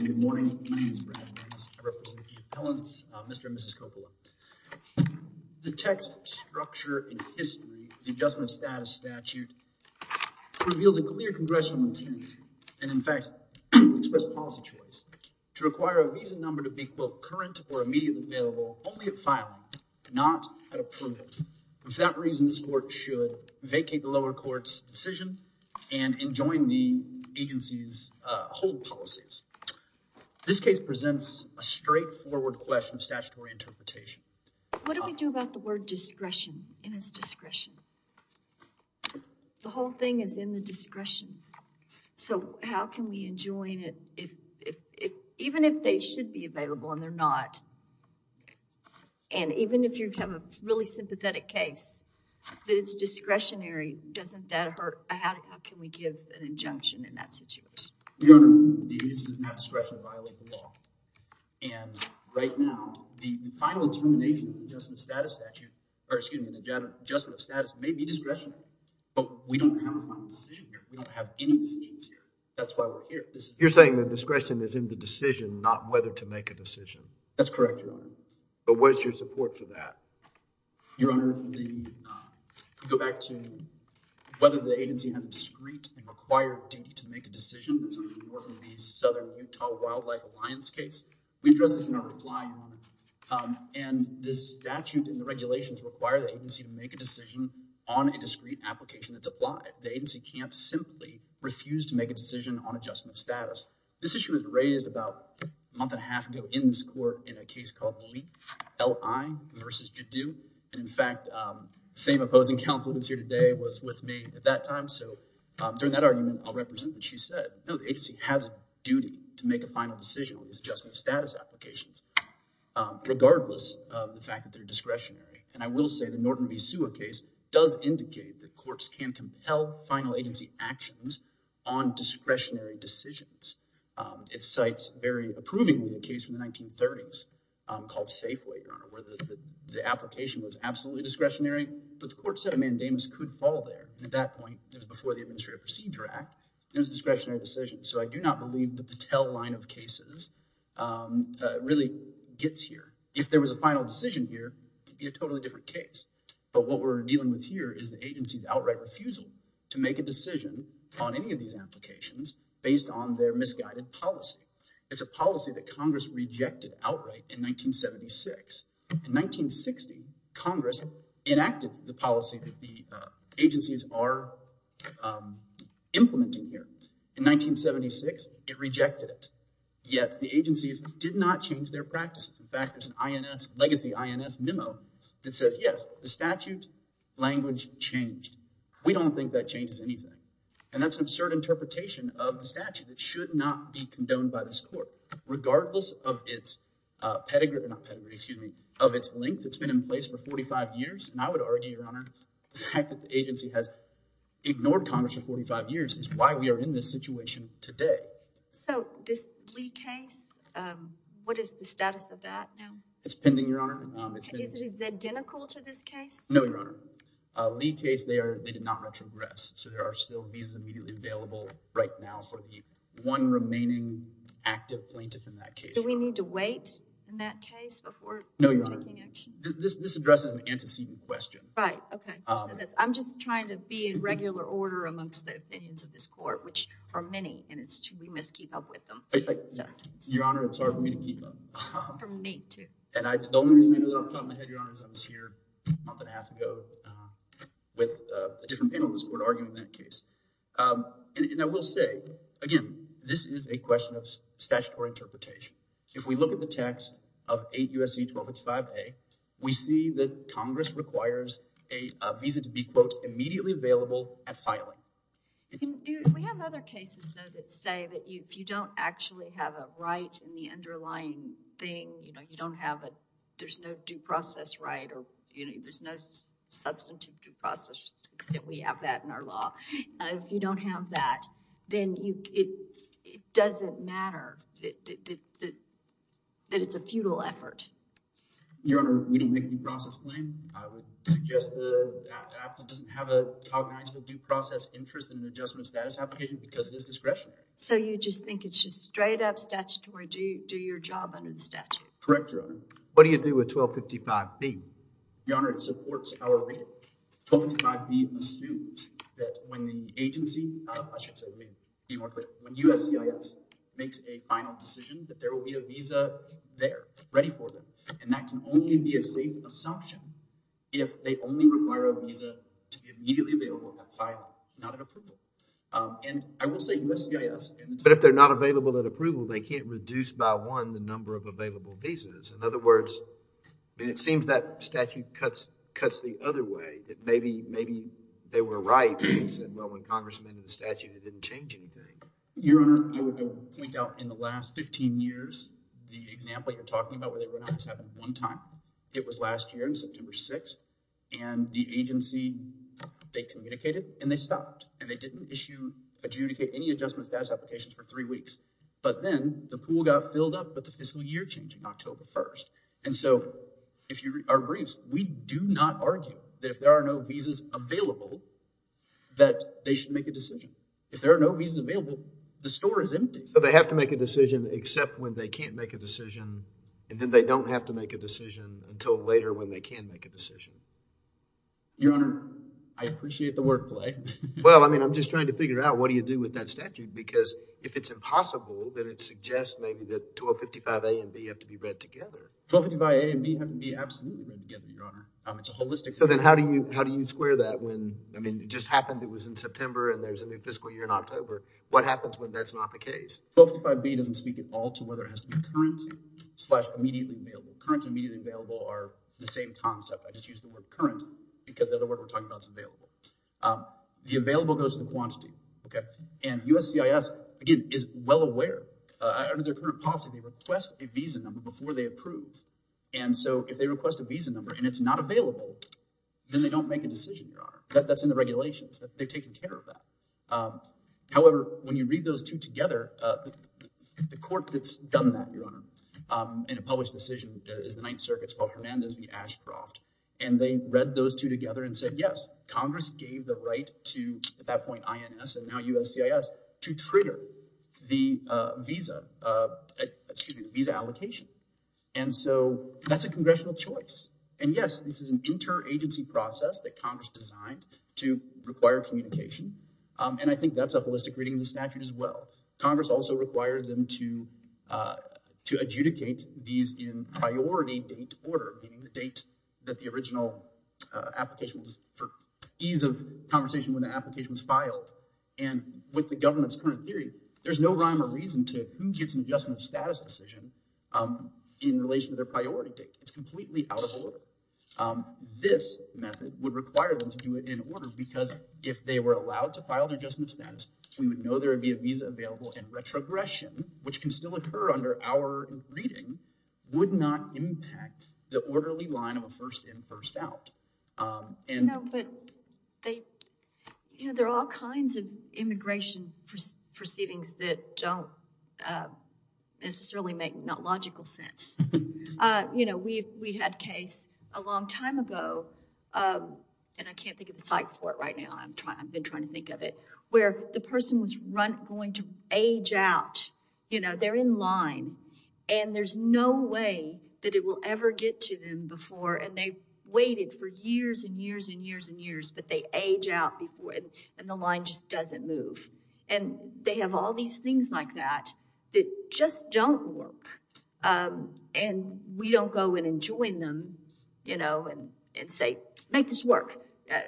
Good morning. My name is Brad Nunes. I represent the appellants Mr. and Mrs. Koppula. The text structure in history, the adjustment status statute, reveals a clear congressional intent, and in fact, expressed policy choice to require a visa number to be both current or immediately available only at filing, not at approving. For that reason, this court should vacate the lower court's decision and enjoin the agency's hold policies. This case presents a straightforward question of statutory interpretation. What do we do about the word discretion and its discretion? The whole thing is in the discretion. So how can we enjoin it, even if they should be available and they're not, and even if you have a really sympathetic case, that it's discretionary, doesn't that hurt? How can we give an injunction in that situation? Your Honor, the agency does not discretionarily violate the law. And right now, the final determination of the adjustment of status statute, or excuse me, the adjustment of status may be discretionary, but we don't have a final decision here. We don't have any decisions here. That's why we're here. You're saying the discretion is in the decision, not whether to make a decision? That's correct, Your Honor. But what is your support for that? Your Honor, to go back to whether the agency has a discreet and required duty to make a decision, that's under the North and East Southern Utah Wildlife Alliance case. We address this in our reply, Your Honor. And this statute and the regulations require the agency to make a decision on a discreet application that's applied. The agency can't simply refuse to make a decision on adjustment of status. This issue was raised about a month and a half ago in this court in a case called Leap, L-I versus Judu. And in fact, the same opposing counsel that's here today was with me at that time. So during that argument, I'll represent what she said. No, the agency has a duty to make a final decision on this adjustment of status applications, regardless of the fact that they're discretionary. And I will say the Norton v. Sewer case does indicate that courts can compel final agency actions on discretionary decisions. It cites very approvingly a case from the 1930s called Safeway, Your Honor, where the application was absolutely discretionary. But the court said a mandamus could fall there. At that point, it was before the Administrative Procedure Act. It was a discretionary decision. So I do not believe the Patel line of cases really gets here. If there was a final decision here, it would be a totally different case. But what we're dealing with here is the agency's outright refusal to make a decision on any of these applications based on their misguided policy. It's a policy that Congress rejected outright in 1976. In 1960, Congress enacted the policy that the agencies are implementing here. In 1976, it rejected it. Yet the agencies did not change their practices. In fact, there's a legacy INS memo that says, yes, the statute language changed. We don't think that changes anything. And that's an absurd interpretation of the statute. It should not be condoned by this court, regardless of its link that's been in place for 45 years. And I would argue, Your Honor, the fact that the agency has ignored Congress for 45 years is why we are in this situation today. So this Lee case, what is the status of that now? It's pending, Your Honor. Is it identical to this case? No, Your Honor. Lee case, they did not retrogress. So there are still visas immediately available right now for the one remaining active plaintiff in that case. Do we need to wait in that case before taking action? This addresses an antecedent question. Right, OK. I'm just trying to be in regular order amongst the opinions of this court, which are many, and we must keep up with them. Your Honor, it's hard for me to keep up. For me, too. And the only reason I know that off the top of my head, Your Honor, is I was here a month and a half ago with a different panel in this court arguing that case. And I will say, again, this is a question of statutory interpretation. If we look at the text of 8 U.S.C. 1285A, we see that Congress requires a visa to be, quote, immediately available at filing. We have other cases, though, that say that if you don't actually have a right in the underlying thing, you know, you don't have a, there's no due process right or, you know, there's no substantive due process to the extent we have that in our law. If you don't have that, then it doesn't matter that it's a futile effort. Your Honor, we don't make a due process claim. I would suggest that AFTA doesn't have a cognizable due process interest in an adjustment status application because it is discretionary. Correct, Your Honor. What do you do with 1255B? Your Honor, it supports our reading. 1255B assumes that when the agency, I should say, be more clear, when USCIS makes a final decision that there will be a visa there ready for them. And that can only be a safe assumption if they only require a visa to be immediately available at filing, not at approval. And I will say USCIS and But if they're not available at approval, they can't reduce by one the number of available visas. In other words, it seems that statute cuts the other way. That maybe they were right when they said, well, when Congress amended the statute, it didn't change anything. Your Honor, I would point out in the last 15 years, the example you're talking about where they went out, this happened one time. It was last year on September 6th. And the agency, they communicated and they stopped. And they didn't issue, adjudicate any adjustment status applications for three weeks. But then the pool got filled up with the fiscal year change in October 1st. And so if you read our briefs, we do not argue that if there are no visas available, that they should make a decision. If there are no visas available, the store is empty. So they have to make a decision except when they can't make a decision. And then they don't have to make a decision until later when they can make a decision. Your Honor, I appreciate the word play. Well, I mean, I'm just trying to figure out what do you do with that statute? Because if it's impossible, then it suggests maybe that 1255A and B have to be read together. 1255A and B have to be absolutely read together, Your Honor. It's a holistic agreement. So then how do you square that when, I mean, it just happened it was in September and there's a new fiscal year in October. What happens when that's not the case? 1255B doesn't speak at all to whether it has to be current slash immediately available. Current and immediately available are the same concept. I just use the word current because the other word we're talking about is available. The available goes to the quantity. And USCIS, again, is well aware. Under their current policy, they request a visa number before they approve. And so if they request a visa number and it's not available, then they don't make a decision, Your Honor. That's in the regulations. They've taken care of that. However, when you read those two together, the court that's done that, Your Honor, in a published decision is the Ninth Circuit. It's called Hernandez v. Ashcroft. And they read those two together and said, yes, Congress gave the right to, at that point, INS and now USCIS to trigger the visa allocation. And so that's a congressional choice. And, yes, this is an interagency process that Congress designed to require communication. And I think that's a holistic reading of the statute as well. Congress also required them to adjudicate these in priority date order, meaning the date that the original application was for ease of conversation when the application was filed. And with the government's current theory, there's no rhyme or reason to who gets an adjustment of status decision in relation to their priority date. It's completely out of order. This method would require them to do it in order because if they were allowed to file their adjustment of status, we would know there would be a visa available. And retrogression, which can still occur under our reading, would not impact the orderly line of a first in, first out. You know, there are all kinds of immigration proceedings that don't necessarily make logical sense. You know, we had a case a long time ago, and I can't think of the site for it right now. I've been trying to think of it where the person was going to age out. You know, they're in line and there's no way that it will ever get to them before. And they waited for years and years and years and years, but they age out before and the line just doesn't move. And they have all these things like that that just don't work. And we don't go in and join them, you know, and say, make this work.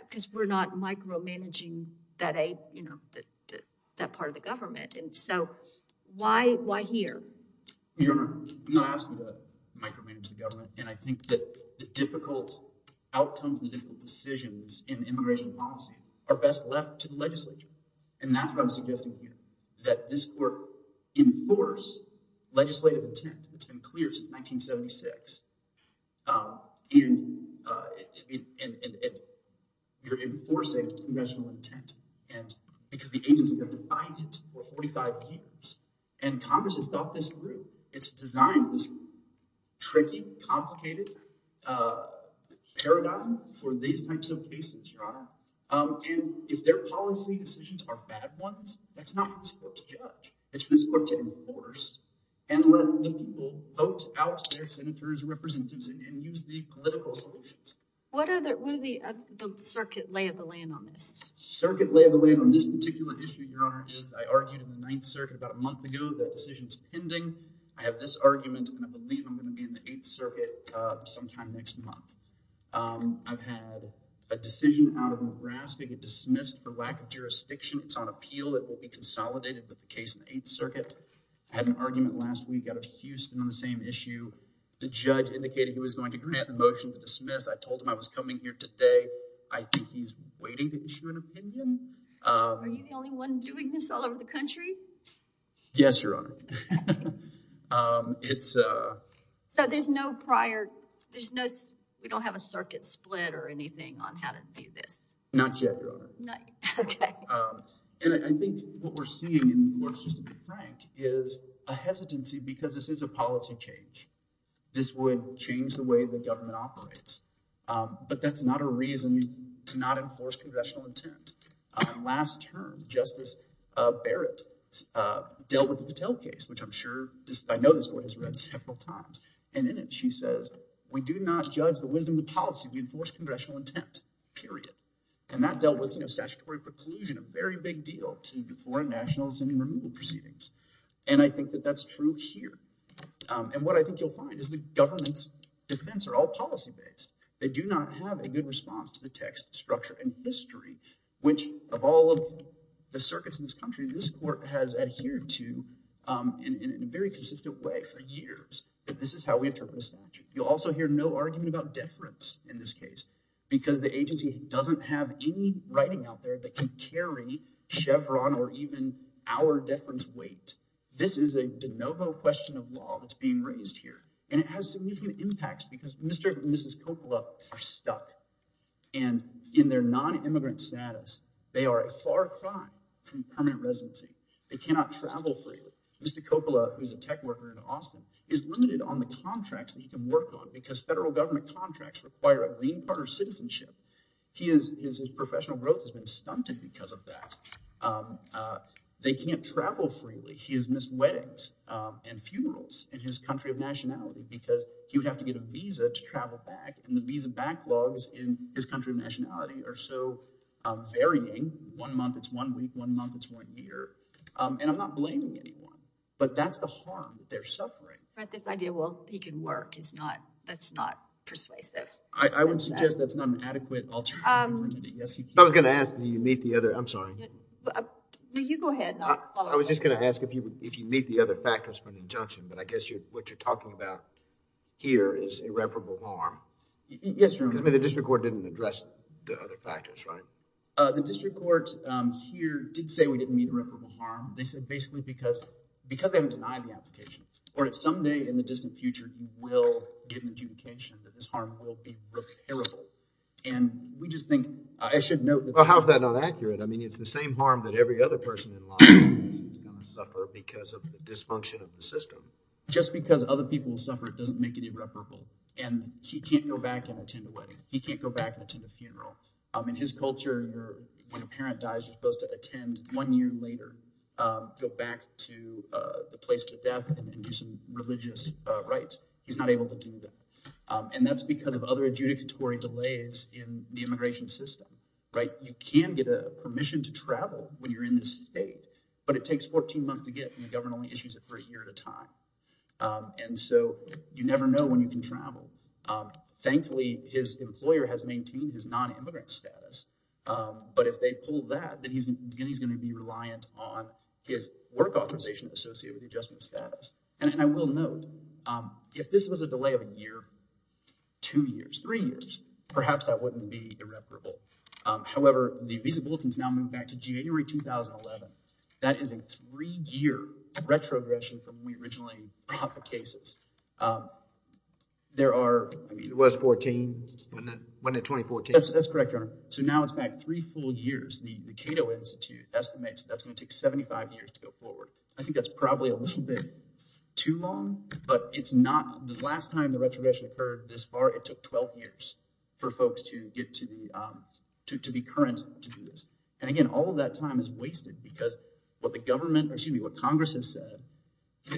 Because we're not micromanaging that part of the government. And so why here? Your Honor, I'm not asking you to micromanage the government. And I think that the difficult outcomes and difficult decisions in immigration policy are best left to the legislature. And that's what I'm suggesting here, that this court enforce legislative intent. It's been clear since 1976. And you're enforcing congressional intent because the agency has been defying it for 45 years. And Congress has thought this through. It's designed this tricky, complicated paradigm for these types of cases, Your Honor. And if their policy decisions are bad ones, that's not for this court to judge. It's for this court to enforce and let the people vote out their senators, representatives, and use the political solutions. What are the circuit lay of the land on this? Circuit lay of the land on this particular issue, Your Honor, is I argued in the Ninth Circuit about a month ago. That decision is pending. I have this argument, and I believe I'm going to be in the Eighth Circuit sometime next month. I've had a decision out of Nebraska get dismissed for lack of jurisdiction. It's on appeal. It will be consolidated with the case in the Eighth Circuit. I had an argument last week out of Houston on the same issue. The judge indicated he was going to grant the motion to dismiss. I told him I was coming here today. I think he's waiting to issue an opinion. Are you the only one doing this all over the country? Yes, Your Honor. So there's no prior – we don't have a circuit split or anything on how to do this? Not yet, Your Honor. And I think what we're seeing in the courts, just to be frank, is a hesitancy because this is a policy change. This would change the way the government operates. But that's not a reason to not enforce congressional intent. Last term, Justice Barrett dealt with the Patel case, which I'm sure – I know this boy has read several times. And in it, she says, we do not judge the wisdom of policy. We enforce congressional intent, period. And that dealt with statutory preclusion, a very big deal to foreign nationals and removal proceedings. And I think that that's true here. And what I think you'll find is the government's defense are all policy-based. They do not have a good response to the text, structure, and history, which of all of the circuits in this country, this court has adhered to in a very consistent way for years that this is how we interpret a statute. You'll also hear no argument about deference in this case because the agency doesn't have any writing out there that can carry Chevron or even our deference weight. This is a de novo question of law that's being raised here. And it has significant impacts because Mr. and Mrs. Coppola are stuck. And in their non-immigrant status, they are a far cry from permanent residency. They cannot travel freely. Mr. Coppola, who is a tech worker in Austin, is limited on the contracts that he can work on because federal government contracts require a green card or citizenship. His professional growth has been stunted because of that. They can't travel freely. He has missed weddings and funerals in his country of nationality because he would have to get a visa to travel back. And the visa backlogs in his country of nationality are so varying. One month, it's one week. One month, it's one year. And I'm not blaming anyone. But that's the harm that they're suffering. But this idea, well, he can work, it's not, that's not persuasive. I would suggest that's not an adequate alternative. I was going to ask, do you meet the other, I'm sorry. No, you go ahead. I was just going to ask if you meet the other factors for an injunction, but I guess what you're talking about here is irreparable harm. Yes, Your Honor. I mean, the district court didn't address the other factors, right? The district court here did say we didn't meet irreparable harm. They said basically because they haven't denied the application. Or someday in the distant future, you will get an adjudication that this harm will be repairable. And we just think, I should note that. Well, how is that not accurate? I mean, it's the same harm that every other person in Los Angeles is going to suffer because of the dysfunction of the system. Just because other people will suffer, it doesn't make it irreparable. And he can't go back and attend a wedding. He can't go back and attend a funeral. In his culture, when a parent dies, you're supposed to attend one year later, go back to the place of the death, and do some religious rites. He's not able to do that. And that's because of other adjudicatory delays in the immigration system, right? You can get a permission to travel when you're in this state, but it takes 14 months to get and the government only issues it for a year at a time. Thankfully, his employer has maintained his non-immigrant status. But if they pull that, then he's going to be reliant on his work authorization associated with the adjustment of status. And I will note, if this was a delay of a year, two years, three years, perhaps that wouldn't be irreparable. However, the visa bulletins now move back to January 2011. That is a three-year retrogression from when we originally brought the cases. There are— It was 14, wasn't it 2014? That's correct, Your Honor. So now it's back three full years. The Cato Institute estimates that's going to take 75 years to go forward. I think that's probably a little bit too long, but it's not. The last time the retrogression occurred this far, it took 12 years for folks to be current to do this. And again, all of that time is wasted because what the government— or excuse me, what Congress has said,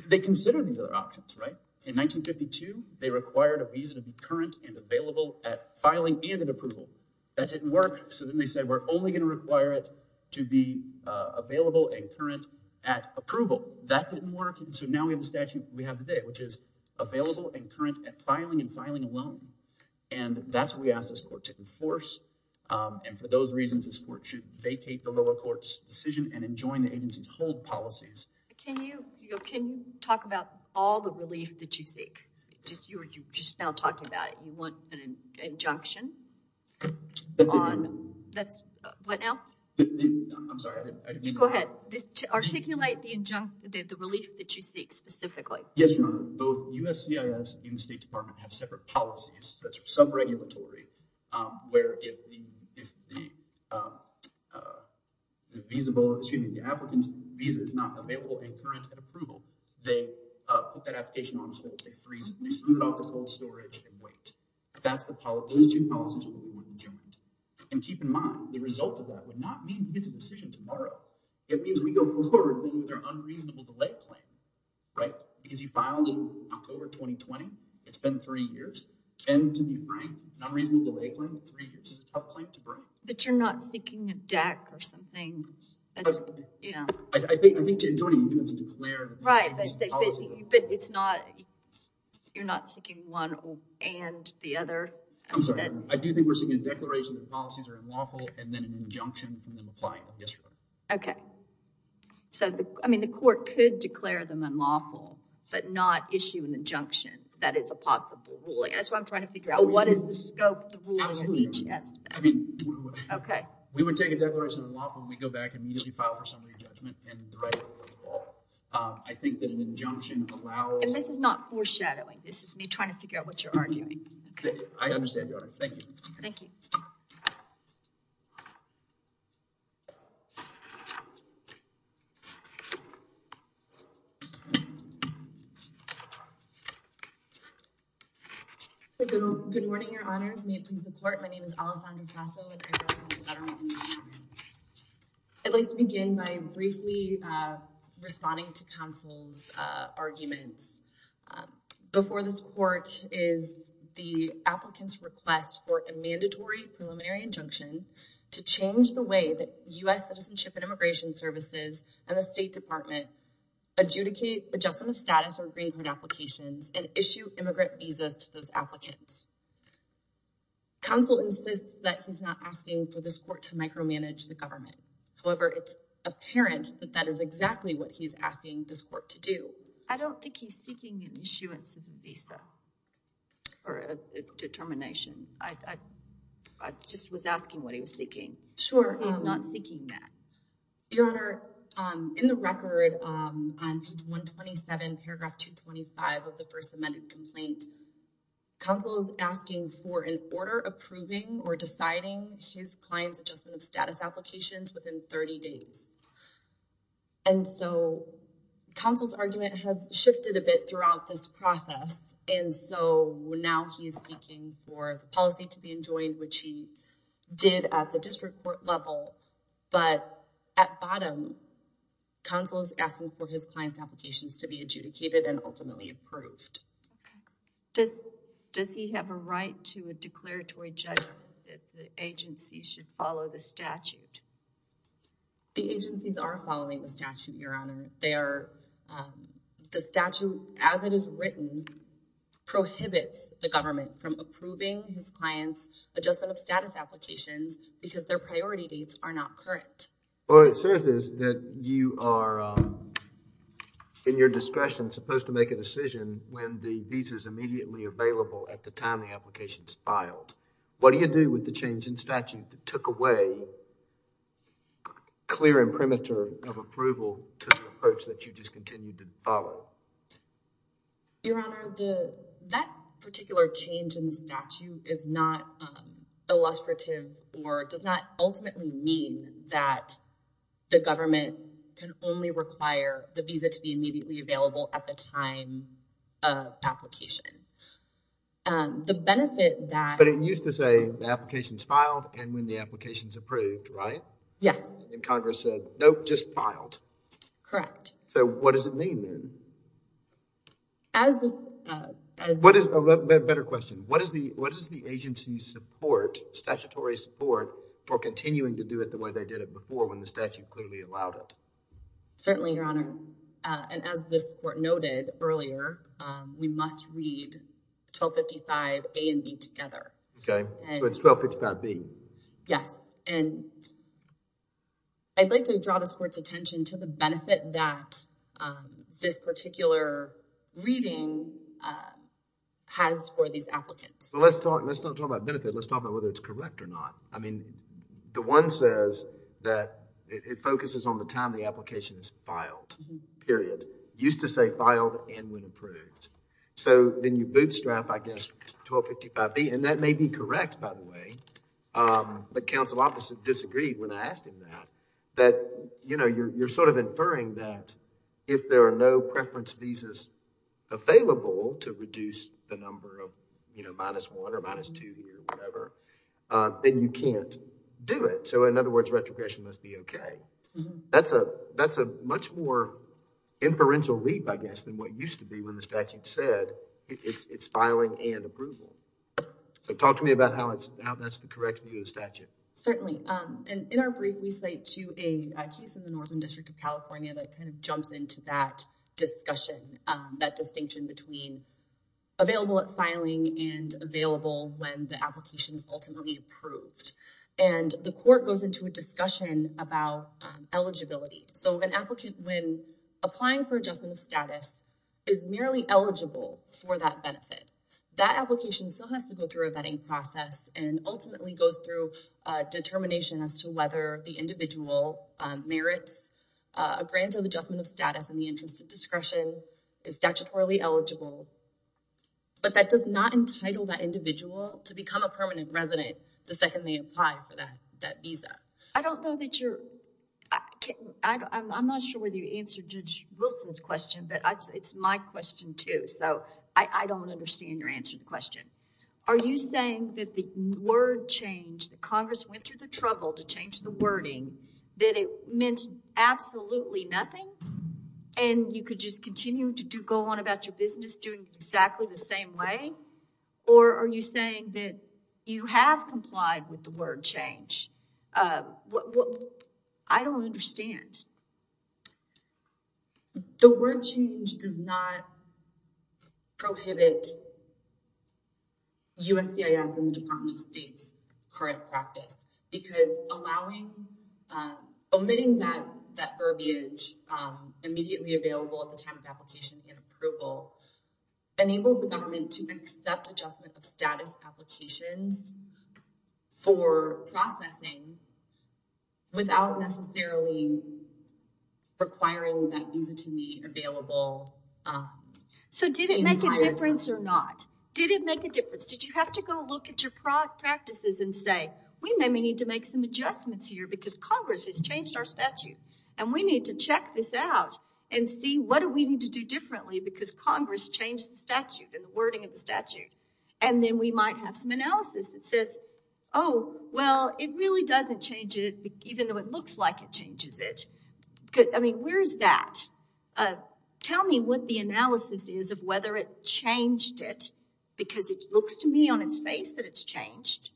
they consider these other options, right? In 1952, they required a visa to be current and available at filing and at approval. That didn't work, so then they said we're only going to require it to be available and current at approval. That didn't work, and so now we have the statute we have today, which is available and current at filing and filing alone. And that's what we asked this court to enforce. And for those reasons, this court should vacate the lower court's decision and enjoin the agency's hold policies. Can you talk about all the relief that you seek? You were just now talking about it. You want an injunction on— That's it, Your Honor. That's—what now? I'm sorry, I didn't mean to interrupt. You go ahead. Articulate the relief that you seek specifically. Yes, Your Honor. Both USCIS and the State Department have separate policies, so that's sub-regulatory, where if the applicant's visa is not available and current at approval, they put that application on the floor, they freeze it, and they send it off to cold storage and wait. Those two policies are the ones we enjoined. And keep in mind, the result of that would not mean we get a decision tomorrow. It means we go forward with our unreasonable delay claim, right? Because he filed in October 2020. It's been three years. And to be frank, unreasonable delay claim, three years. It's a tough claim to break. But you're not seeking a DAC or something? I think to enjoin it, you do have to declare the policy. Right, but it's not—you're not seeking one and the other? I'm sorry, Your Honor. I do think we're seeking a declaration that the policies are unlawful and then an injunction from the client. Yes, Your Honor. Okay. So, I mean, the court could declare them unlawful but not issue an injunction that is a possible ruling. That's what I'm trying to figure out. What is the scope of the ruling? Absolutely. Yes. Okay. We would take a declaration of unlawful and we'd go back and immediately file for some re-judgment and the right to rule. I think that an injunction allows— And this is not foreshadowing. This is me trying to figure out what you're arguing. I understand, Your Honor. Thank you. Thank you. Good morning, Your Honors. May it please the court. My name is Alessandra Casso. I'd like to begin by briefly responding to counsel's arguments. Before this court is the applicant's request for a mandatory preliminary injunction to change the way that U.S. Citizenship and Immigration Services and the State Department adjudicate adjustment of status on Green Card applications and issue immigrant visas to those applicants. Counsel insists that he's not asking for this court to micromanage the government. However, it's apparent that that is exactly what he's asking this court to do. I don't think he's seeking an issuance of a visa or a determination. I just was asking what he was seeking. Sure. He's not seeking that. Your Honor, in the record on page 127, paragraph 225 of the first amended complaint, counsel is asking for an order approving or deciding his client's adjustment of status applications within 30 days. And so counsel's argument has shifted a bit throughout this process. And so now he is seeking for the policy to be enjoined, which he did at the district court level. But at bottom, counsel is asking for his client's applications to be adjudicated and ultimately approved. Does he have a right to a declaratory judgment that the agency should follow the statute? The agencies are following the statute, Your Honor. The statute, as it is written, prohibits the government from approving his client's adjustment of status applications because their priority dates are not current. All it says is that you are, in your discretion, supposed to make a decision when the visa is immediately available at the time the application is filed. What do you do with the change in statute that took away clear imprimatur of approval to the approach that you just continued to follow? Your Honor, that particular change in the statute is not illustrative or does not ultimately mean that the government can only require the visa to be immediately available at the time of application. But it used to say the application is filed and when the application is approved, right? Yes. And Congress said, nope, just filed. Correct. So what does it mean then? A better question. What does the agency support, statutory support, for continuing to do it the way they did it before when the statute clearly allowed it? Certainly, Your Honor. And as this Court noted earlier, we must read 1255A and B together. Okay. So it's 1255B. Yes. And I'd like to draw this Court's attention to the benefit that this particular reading has for these applicants. Let's not talk about benefit. Let's talk about whether it's correct or not. I mean, the one says that it focuses on the time the application is filed, period. It used to say filed and when approved. So then you bootstrap, I guess, 1255B. And that may be correct, by the way. But counsel obviously disagreed when I asked him that. You're sort of inferring that if there are no preference visas available to reduce the number of minus one or minus two or whatever, then you can't do it. So in other words, retrogression must be okay. That's a much more inferential leap, I guess, than what used to be when the statute said it's filing and approval. So talk to me about how that's the correct view of the statute. Certainly. And in our brief, we cite to a case in the Northern District of California that kind of jumps into that discussion, that distinction between available at filing and available when the application is ultimately approved. And the court goes into a discussion about eligibility. So an applicant, when applying for adjustment of status, is merely eligible for that benefit. That application still has to go through a vetting process and ultimately goes through determination as to whether the individual merits a grant of adjustment of status in the interest of discretion, is statutorily eligible. But that does not entitle that individual to become a permanent resident the second they apply for that visa. I don't know that you're, I'm not sure whether you answered Judge Wilson's question, but it's my question, too. So I don't understand your answer to the question. Are you saying that the word change, that Congress went through the trouble to change the wording, that it meant absolutely nothing? And you could just continue to go on about your business doing exactly the same way? Or are you saying that you have complied with the word change? I don't understand. The word change does not prohibit USCIS and the Department of State's current practice. Because omitting that verbiage immediately available at the time of application and approval enables the government to accept adjustment of status applications for processing without necessarily requiring that visa to be available. So did it make a difference or not? Did you have to go look at your practices and say, we may need to make some adjustments here because Congress has changed our statute. And we need to check this out and see what do we need to do differently because Congress changed the statute and the wording of the statute. And then we might have some analysis that says, oh, well, it really doesn't change it, even though it looks like it changes it. I mean, where is that? Tell me what the analysis is of whether it changed it because it looks to me on its face that it's changed.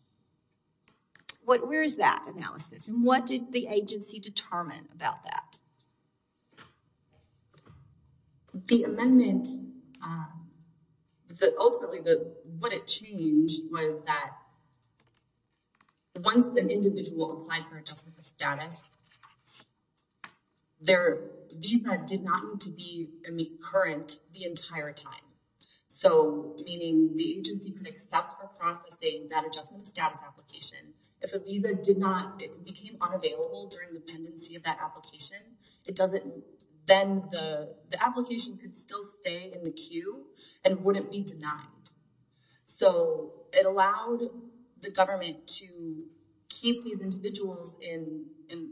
Where is that analysis? And what did the agency determine about that? The amendment, ultimately what it changed was that once an individual applied for adjustment of status, their visa did not need to be current the entire time. Meaning the agency could accept for processing that adjustment of status application. If a visa did not, it became unavailable during the pendency of that application, then the application could still stay in the queue and wouldn't be denied. So it allowed the government to keep these individuals in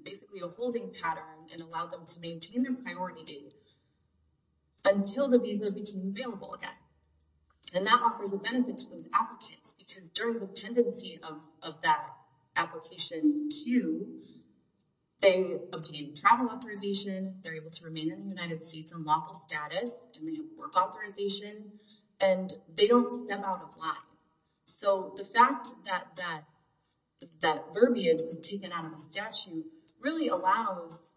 basically a holding pattern and allowed them to maintain their priority until the visa became available again. And that offers a benefit to those applicants because during the pendency of that application queue, they obtain travel authorization. They're able to remain in the United States on lawful status and they have work authorization and they don't step out of line. So, the fact that that that verbiage is taken out of a statute really allows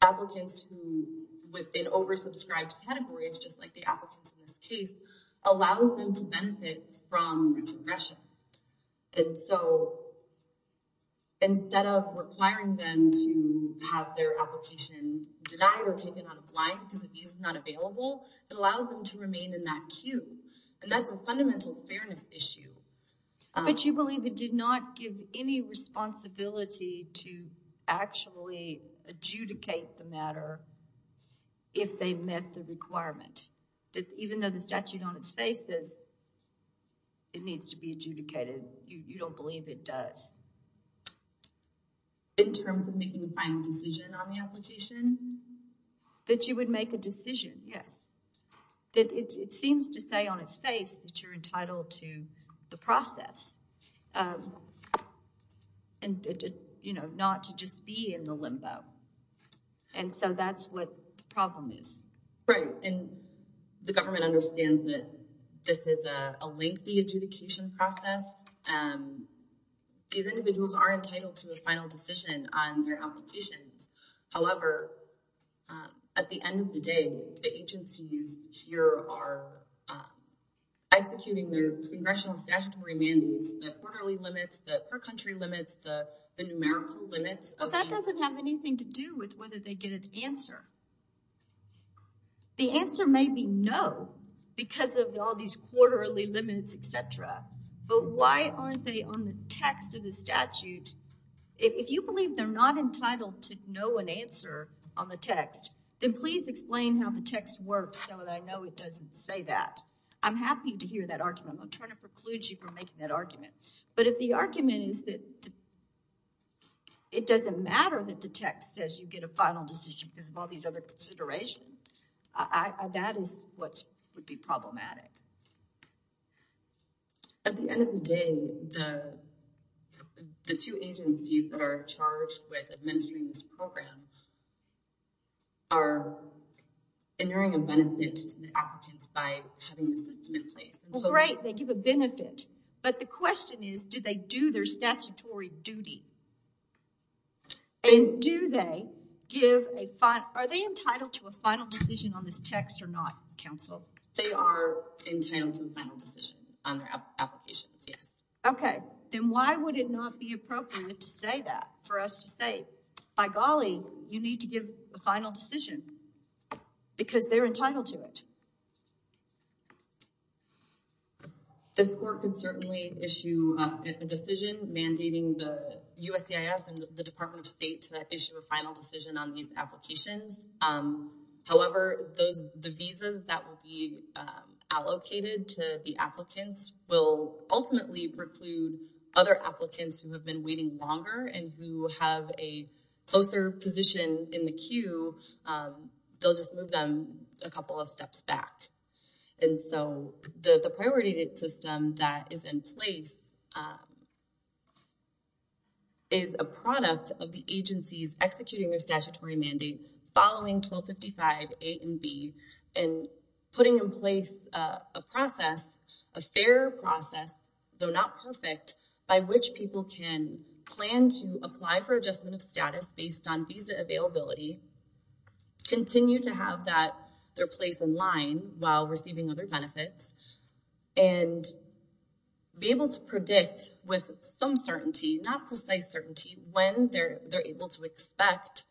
applicants who within oversubscribed categories, just like the applicants in this case, allows them to benefit from progression. And so, instead of requiring them to have their application denied or taken out of line because a visa is not available, it allows them to remain in that queue. And that's a fundamental fairness issue. But you believe it did not give any responsibility to actually adjudicate the matter if they met the requirement. Even though the statute on its face says it needs to be adjudicated, you don't believe it does. In terms of making a final decision on the application? That you would make a decision, yes. It seems to say on its face that you're entitled to the process and not to just be in the limbo. And so that's what the problem is. Right, and the government understands that this is a lengthy adjudication process. These individuals are entitled to a final decision on their applications. However, at the end of the day, the agencies here are executing their congressional statutory mandates. The quarterly limits, the per country limits, the numerical limits. Well, that doesn't have anything to do with whether they get an answer. The answer may be no because of all these quarterly limits, etc. But why aren't they on the text of the statute? If you believe they're not entitled to know an answer on the text, then please explain how the text works so that I know it doesn't say that. I'm happy to hear that argument. I'm trying to preclude you from making that argument. But if the argument is that it doesn't matter that the text says you get a final decision because of all these other considerations, that is what would be problematic. At the end of the day, the two agencies that are charged with administering this program are inuring a benefit to the applicants by having the system in place. Well, great, they give a benefit. But the question is, do they do their statutory duty? Are they entitled to a final decision on this text or not, counsel? They are entitled to the final decision on their applications. Yes. Okay. Then why would it not be appropriate to say that for us to say, by golly, you need to give the final decision. Because they're entitled to it. This work can certainly issue a decision mandating the and the Department of State to issue a final decision on these applications. However, those the visas that will be allocated to the applicants will ultimately preclude other applicants who have been waiting longer and who have a closer position in the queue. They'll just move them a couple of steps back. And so the priority system that is in place. Is a product of the agencies executing their statutory mandate following 1255 and B, and putting in place a process, a fair process. They're not perfect by which people can plan to apply for adjustment of status based on visa availability. Continue to have that their place in line while receiving other benefits. And be able to predict with some certainty, not precise certainty when they're able to expect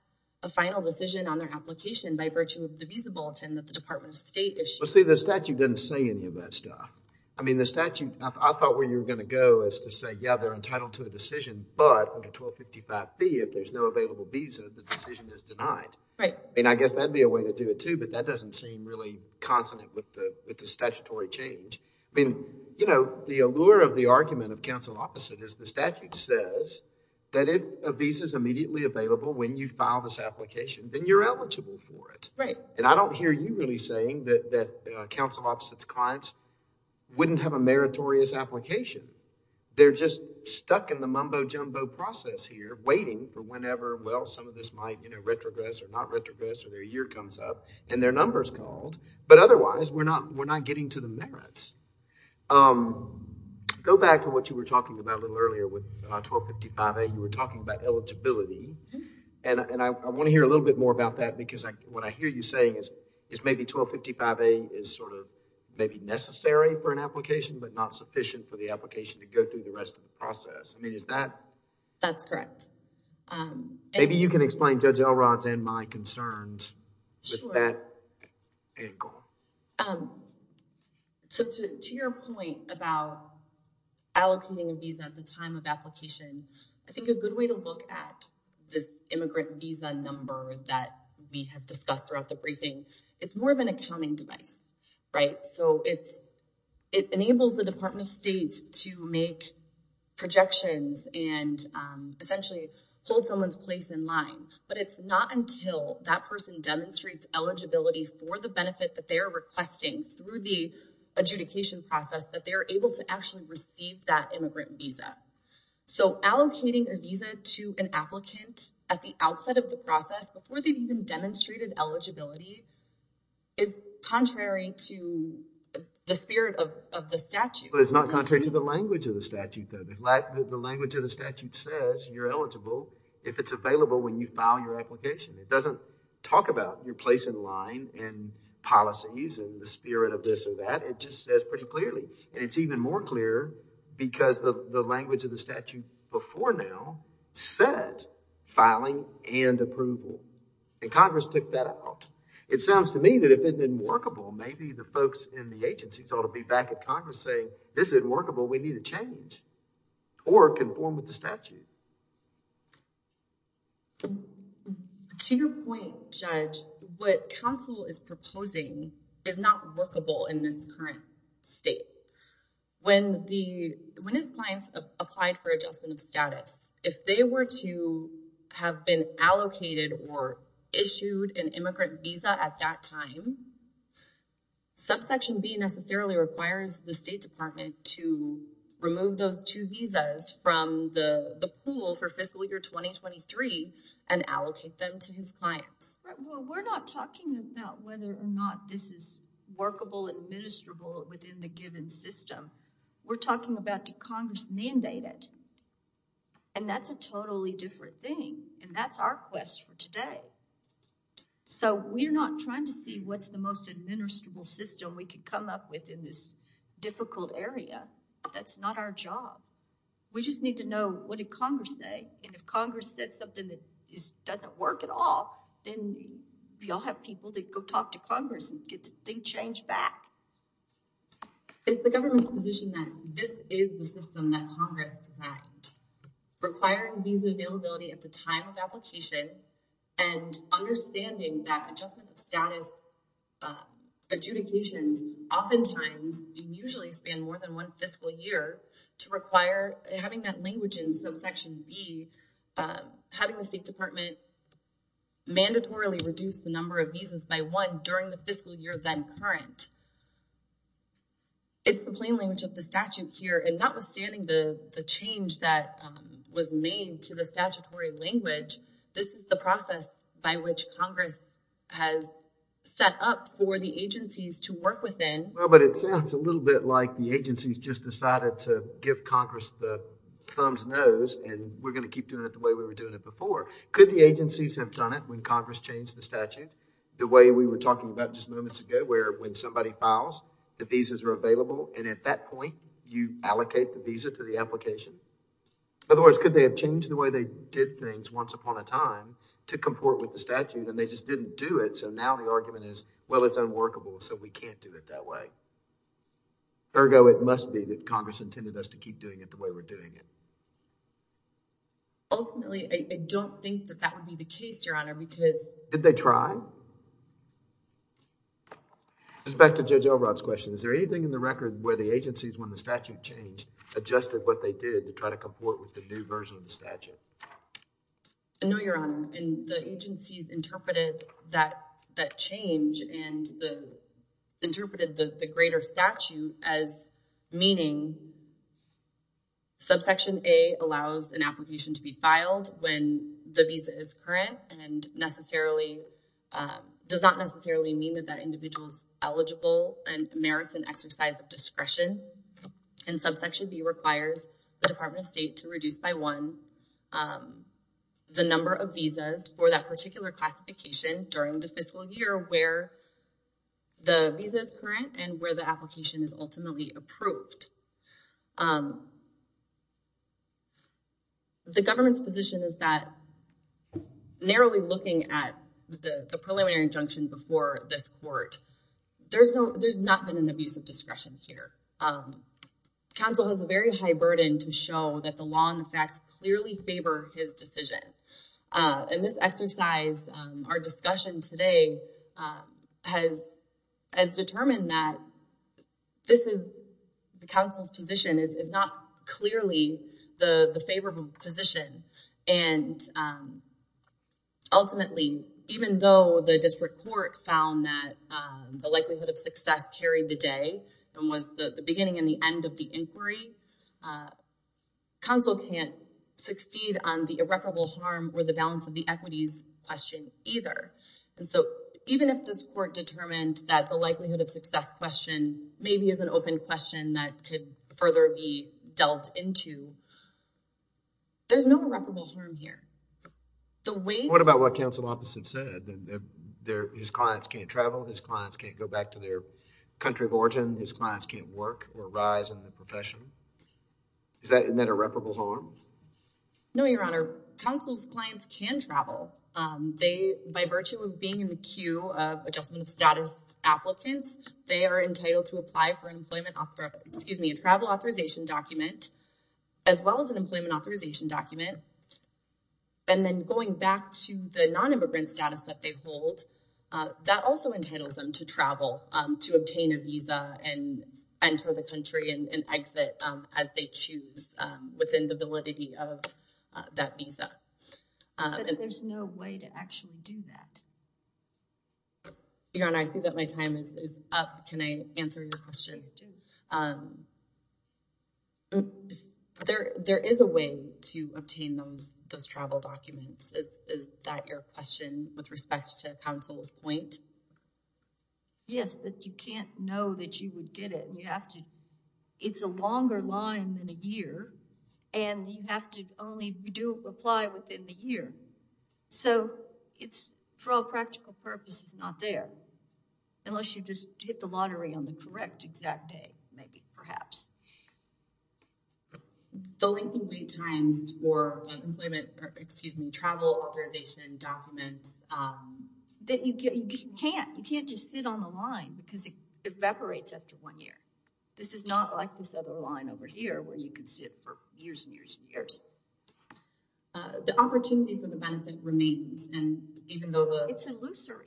a final decision on their application by virtue of the visa bulletin that the Department of State issued. Well, see, the statute doesn't say any of that stuff. I mean, the statute, I thought where you're going to go is to say, yeah, they're entitled to a decision. But under 1255B, if there's no available visa, the decision is denied. Right. I mean, I guess that'd be a way to do it, too. But that doesn't seem really consonant with the statutory change. I mean, you know, the allure of the argument of counsel opposite is the statute says that if a visa is immediately available when you file this application, then you're eligible for it. Right. And I don't hear you really saying that counsel opposite's clients wouldn't have a meritorious application. They're just stuck in the mumbo-jumbo process here waiting for whenever, well, some of this might, you know, retrogress or not retrogress or their year comes up and their numbers called. But otherwise, we're not getting to the merits. Go back to what you were talking about a little earlier with 1255A. You were talking about eligibility. And I want to hear a little bit more about that because what I hear you saying is maybe 1255A is sort of maybe necessary for an application but not sufficient for the application to go through the rest of the process. I mean, is that? That's correct. Maybe you can explain Judge Elrod's and my concerns with that angle. So, to your point about allocating a visa at the time of application, I think a good way to look at this immigrant visa number that we have discussed throughout the briefing, it's more of an accounting device. Right. It enables the Department of State to make projections and essentially hold someone's place in line. But it's not until that person demonstrates eligibility for the benefit that they're requesting through the adjudication process that they're able to actually receive that immigrant visa. So, allocating a visa to an applicant at the outset of the process before they've even demonstrated eligibility is contrary to the spirit of the statute. But it's not contrary to the language of the statute, though. The language of the statute says you're eligible if it's available when you file your application. It doesn't talk about your place in line and policies and the spirit of this or that. It just says pretty clearly. And it's even more clear because the language of the statute before now said filing and approval. And Congress took that out. It sounds to me that if it didn't workable, maybe the folks in the agencies ought to be back at Congress saying, this isn't workable. We need a change or conform with the statute. To your point, Judge, what counsel is proposing is not workable in this current state. When his clients applied for adjustment of status, if they were to have been allocated or issued an immigrant visa at that time, subsection B necessarily requires the State Department to remove those two visas from the pool for fiscal year 2023 and allocate them to his clients. We're not talking about whether or not this is workable, administrable within the given system. We're talking about did Congress mandate it. And that's a totally different thing. And that's our quest for today. So we're not trying to see what's the most administrable system we could come up with in this difficult area. That's not our job. We just need to know what did Congress say. And if Congress said something that doesn't work at all, then we all have people to go talk to Congress and get the change back. It's the government's position that this is the system that Congress. Requiring these availability at the time of application. And understanding that adjustment status. Adjudications oftentimes usually spend more than 1 fiscal year to require having that language in subsection B, having the State Department. Mandatorily reduce the number of visas by 1 during the fiscal year, then current. It's the plain language of the statute here. And notwithstanding the change that was made to the statutory language. This is the process by which Congress has set up for the agencies to work within. Well, but it sounds a little bit like the agencies just decided to give Congress the thumbs nose. And we're going to keep doing it the way we were doing it before. Could the agencies have done it when Congress changed the statute? The way we were talking about just moments ago, where when somebody files, the visas are available. And at that point, you allocate the visa to the application. Otherwise, could they have changed the way they did things once upon a time to comport with the statute? And they just didn't do it. So now the argument is, well, it's unworkable. So we can't do it that way. Ergo, it must be that Congress intended us to keep doing it the way we're doing it. Ultimately, I don't think that that would be the case, Your Honor, because. Did they try? Just back to Judge Elrod's question. Is there anything in the record where the agencies, when the statute changed, adjusted what they did to try to comport with the new version of the statute? No, Your Honor. And the agencies interpreted that change and interpreted the greater statute as meaning Subsection A allows an application to be filed when the visa is current and necessarily does not necessarily mean that that individual is eligible and merits an exercise of discretion. And subsection B requires the Department of State to reduce by 1 the number of visas for that particular classification during the fiscal year where. The visa is current and where the application is ultimately approved. The government's position is that narrowly looking at the preliminary injunction before this court, there's not been an abuse of discretion here. Counsel has a very high burden to show that the law and the facts clearly favor his decision. In this exercise, our discussion today has determined that the counsel's position is not clearly the favorable position. And ultimately, even though the district court found that the likelihood of success carried the day and was the beginning and the end of the inquiry, counsel can't succeed on the irreparable harm or the balance of the equities question either. And so even if this court determined that the likelihood of success question maybe is an open question that could further be dealt into, there's no irreparable harm here. What about what counsel opposite said? His clients can't travel, his clients can't go back to their country of origin, his clients can't work or rise in the profession. Is that an irreparable harm? No, your honor. Counsel's clients can travel. They, by virtue of being in the queue of adjustment of status applicants, they are entitled to apply for an employment, excuse me, a travel authorization document as well as an employment authorization document. And then going back to the non-immigrant status that they hold, that also entitles them to travel, to obtain a visa and enter the country and exit as they choose within the validity of that visa. But there's no way to actually do that. Your honor, I see that my time is up. Can I answer your questions? There is a way to obtain those travel documents. Is that your question with respect to counsel's point? Yes, but you can't know that you would get it. You have to, it's a longer line than a year and you have to only, you do apply within the year. So, it's for all practical purposes not there. Unless you just hit the lottery on the correct exact day, maybe, perhaps. The length and wait times for employment, excuse me, travel authorization documents. You can't, you can't just sit on the line because it evaporates after one year. This is not like this other line over here where you can sit for years and years and years. The opportunity for the benefit remains and even though the... It's illusory.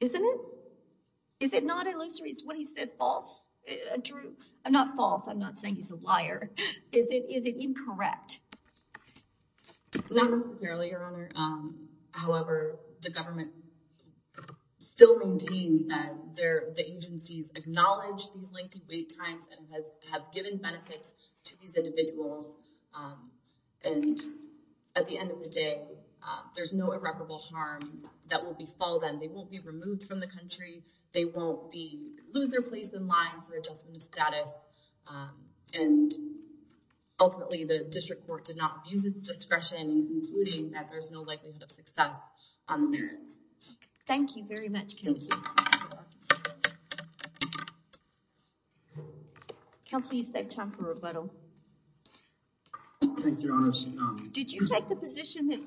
Isn't it? Is it not illusory? Is what he said false, Drew? I'm not false, I'm not saying he's a liar. Is it incorrect? Not necessarily, Your Honor. However, the government still maintains that the agencies acknowledge these length and wait times and have given benefits to these individuals. And at the end of the day, there's no irreparable harm that will befall them. They won't be removed from the country. They won't lose their place in line for adjustment of status. And ultimately, the district court did not use its discretion in concluding that there's no likelihood of success on the merits. Thank you very much, Counselor. Counselor, you saved time for rebuttal. Thank you, Your Honor. Did you take the position that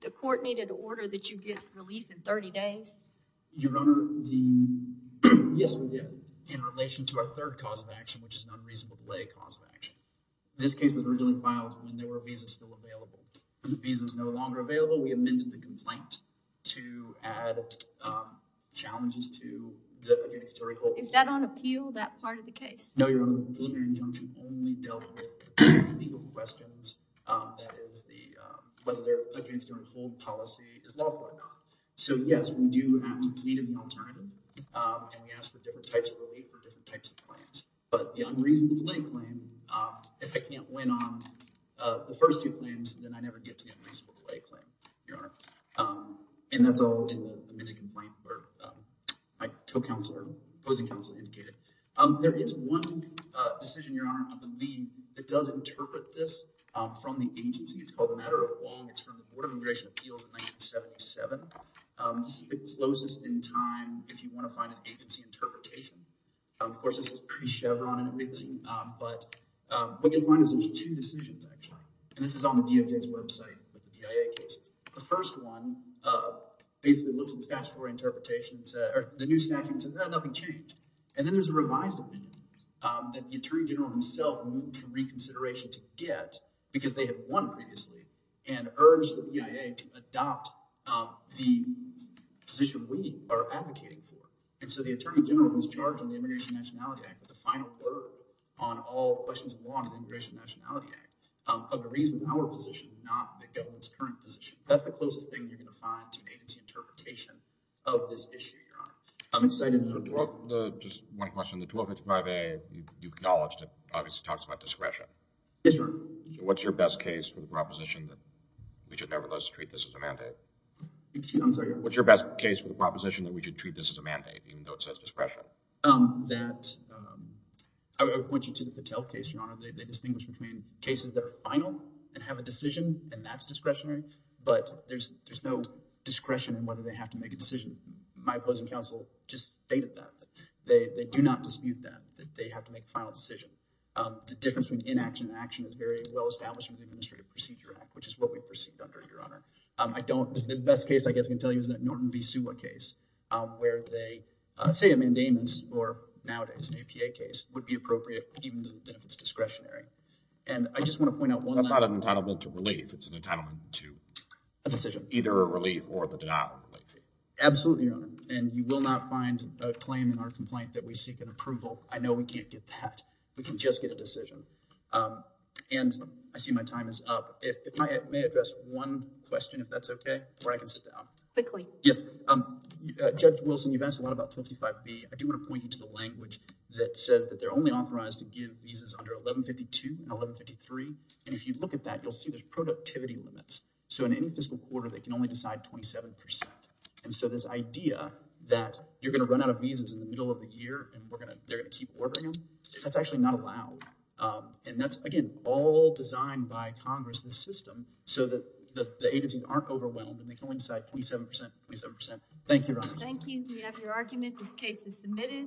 the court needed to order that you get relief in 30 days? Your Honor, yes, we did. In relation to our third cause of action, which is an unreasonable delay cause of action. This case was originally filed when there were visas still available. The visa's no longer available. We amended the complaint to add challenges to the adjudicatory hold. Is that on appeal, that part of the case? No, Your Honor. The preliminary injunction only dealt with legal questions. That is, whether their adjudicatory hold policy is lawful or not. So, yes, we do need an alternative. And we ask for different types of relief for different types of claims. But the unreasonable delay claim, if I can't win on the first two claims, then I never get to the unreasonable delay claim, Your Honor. And that's all in the amended complaint that my co-counselor, opposing counsel, indicated. There is one decision, Your Honor, on the lien that does interpret this from the agency. It's called the Matter of Long. It's from the Board of Immigration Appeals in 1977. This is the closest in time if you want to find an agency interpretation. Of course, this is pretty Chevron and everything. But what you'll find is there's two decisions, actually. And this is on the DMJ's website with the BIA cases. The first one basically looks at statutory interpretations or the new statutes, and nothing changed. And then there's a revised opinion that the attorney general himself moved for reconsideration to get because they had won previously and urged the BIA to adopt the position we are advocating for. And so the attorney general was charged in the Immigration and Nationality Act with the final word on all questions of law in the Immigration and Nationality Act of the reason our position is not the government's current position. That's the closest thing you're going to find to an agency interpretation of this issue, Your Honor. I'm excited. Just one question. The 2055A, you acknowledged it obviously talks about discretion. Yes, Your Honor. So what's your best case for the proposition that we should nevertheless treat this as a mandate? Excuse me? I'm sorry. What's your best case for the proposition that we should treat this as a mandate even though it says discretion? I would point you to the Patel case, Your Honor. They distinguish between cases that are final and have a decision, and that's discretionary. But there's no discretion in whether they have to make a decision. My opposing counsel just stated that. They do not dispute that, that they have to make a final decision. The difference between inaction and action is very well established in the Administrative Procedure Act, which is what we proceed under, Your Honor. I don't—the best case I guess I can tell you is that Norton v. Suwa case where they—say a mandamus, or nowadays an APA case, would be appropriate even if it's discretionary. And I just want to point out one last— That's not an entitlement to relief. It's an entitlement to— A decision. Either a relief or the denial of relief. Absolutely, Your Honor. And you will not find a claim in our complaint that we seek an approval. I know we can't get that. We can just get a decision. And I see my time is up. If I may address one question, if that's okay, where I can sit down. Quickly. Yes. Judge Wilson, you've asked a lot about 255B. I do want to point you to the language that says that they're only authorized to give visas under 1152 and 1153. And if you look at that, you'll see there's productivity limits. So in any fiscal quarter, they can only decide 27%. And so this idea that you're going to run out of visas in the middle of the year and they're going to keep ordering them, that's actually not allowed. And that's, again, all designed by Congress, this system, so that the agencies aren't overwhelmed and they can only decide 27%, 27%. Thank you, Your Honor. Thank you. We have your argument. This case is submitted.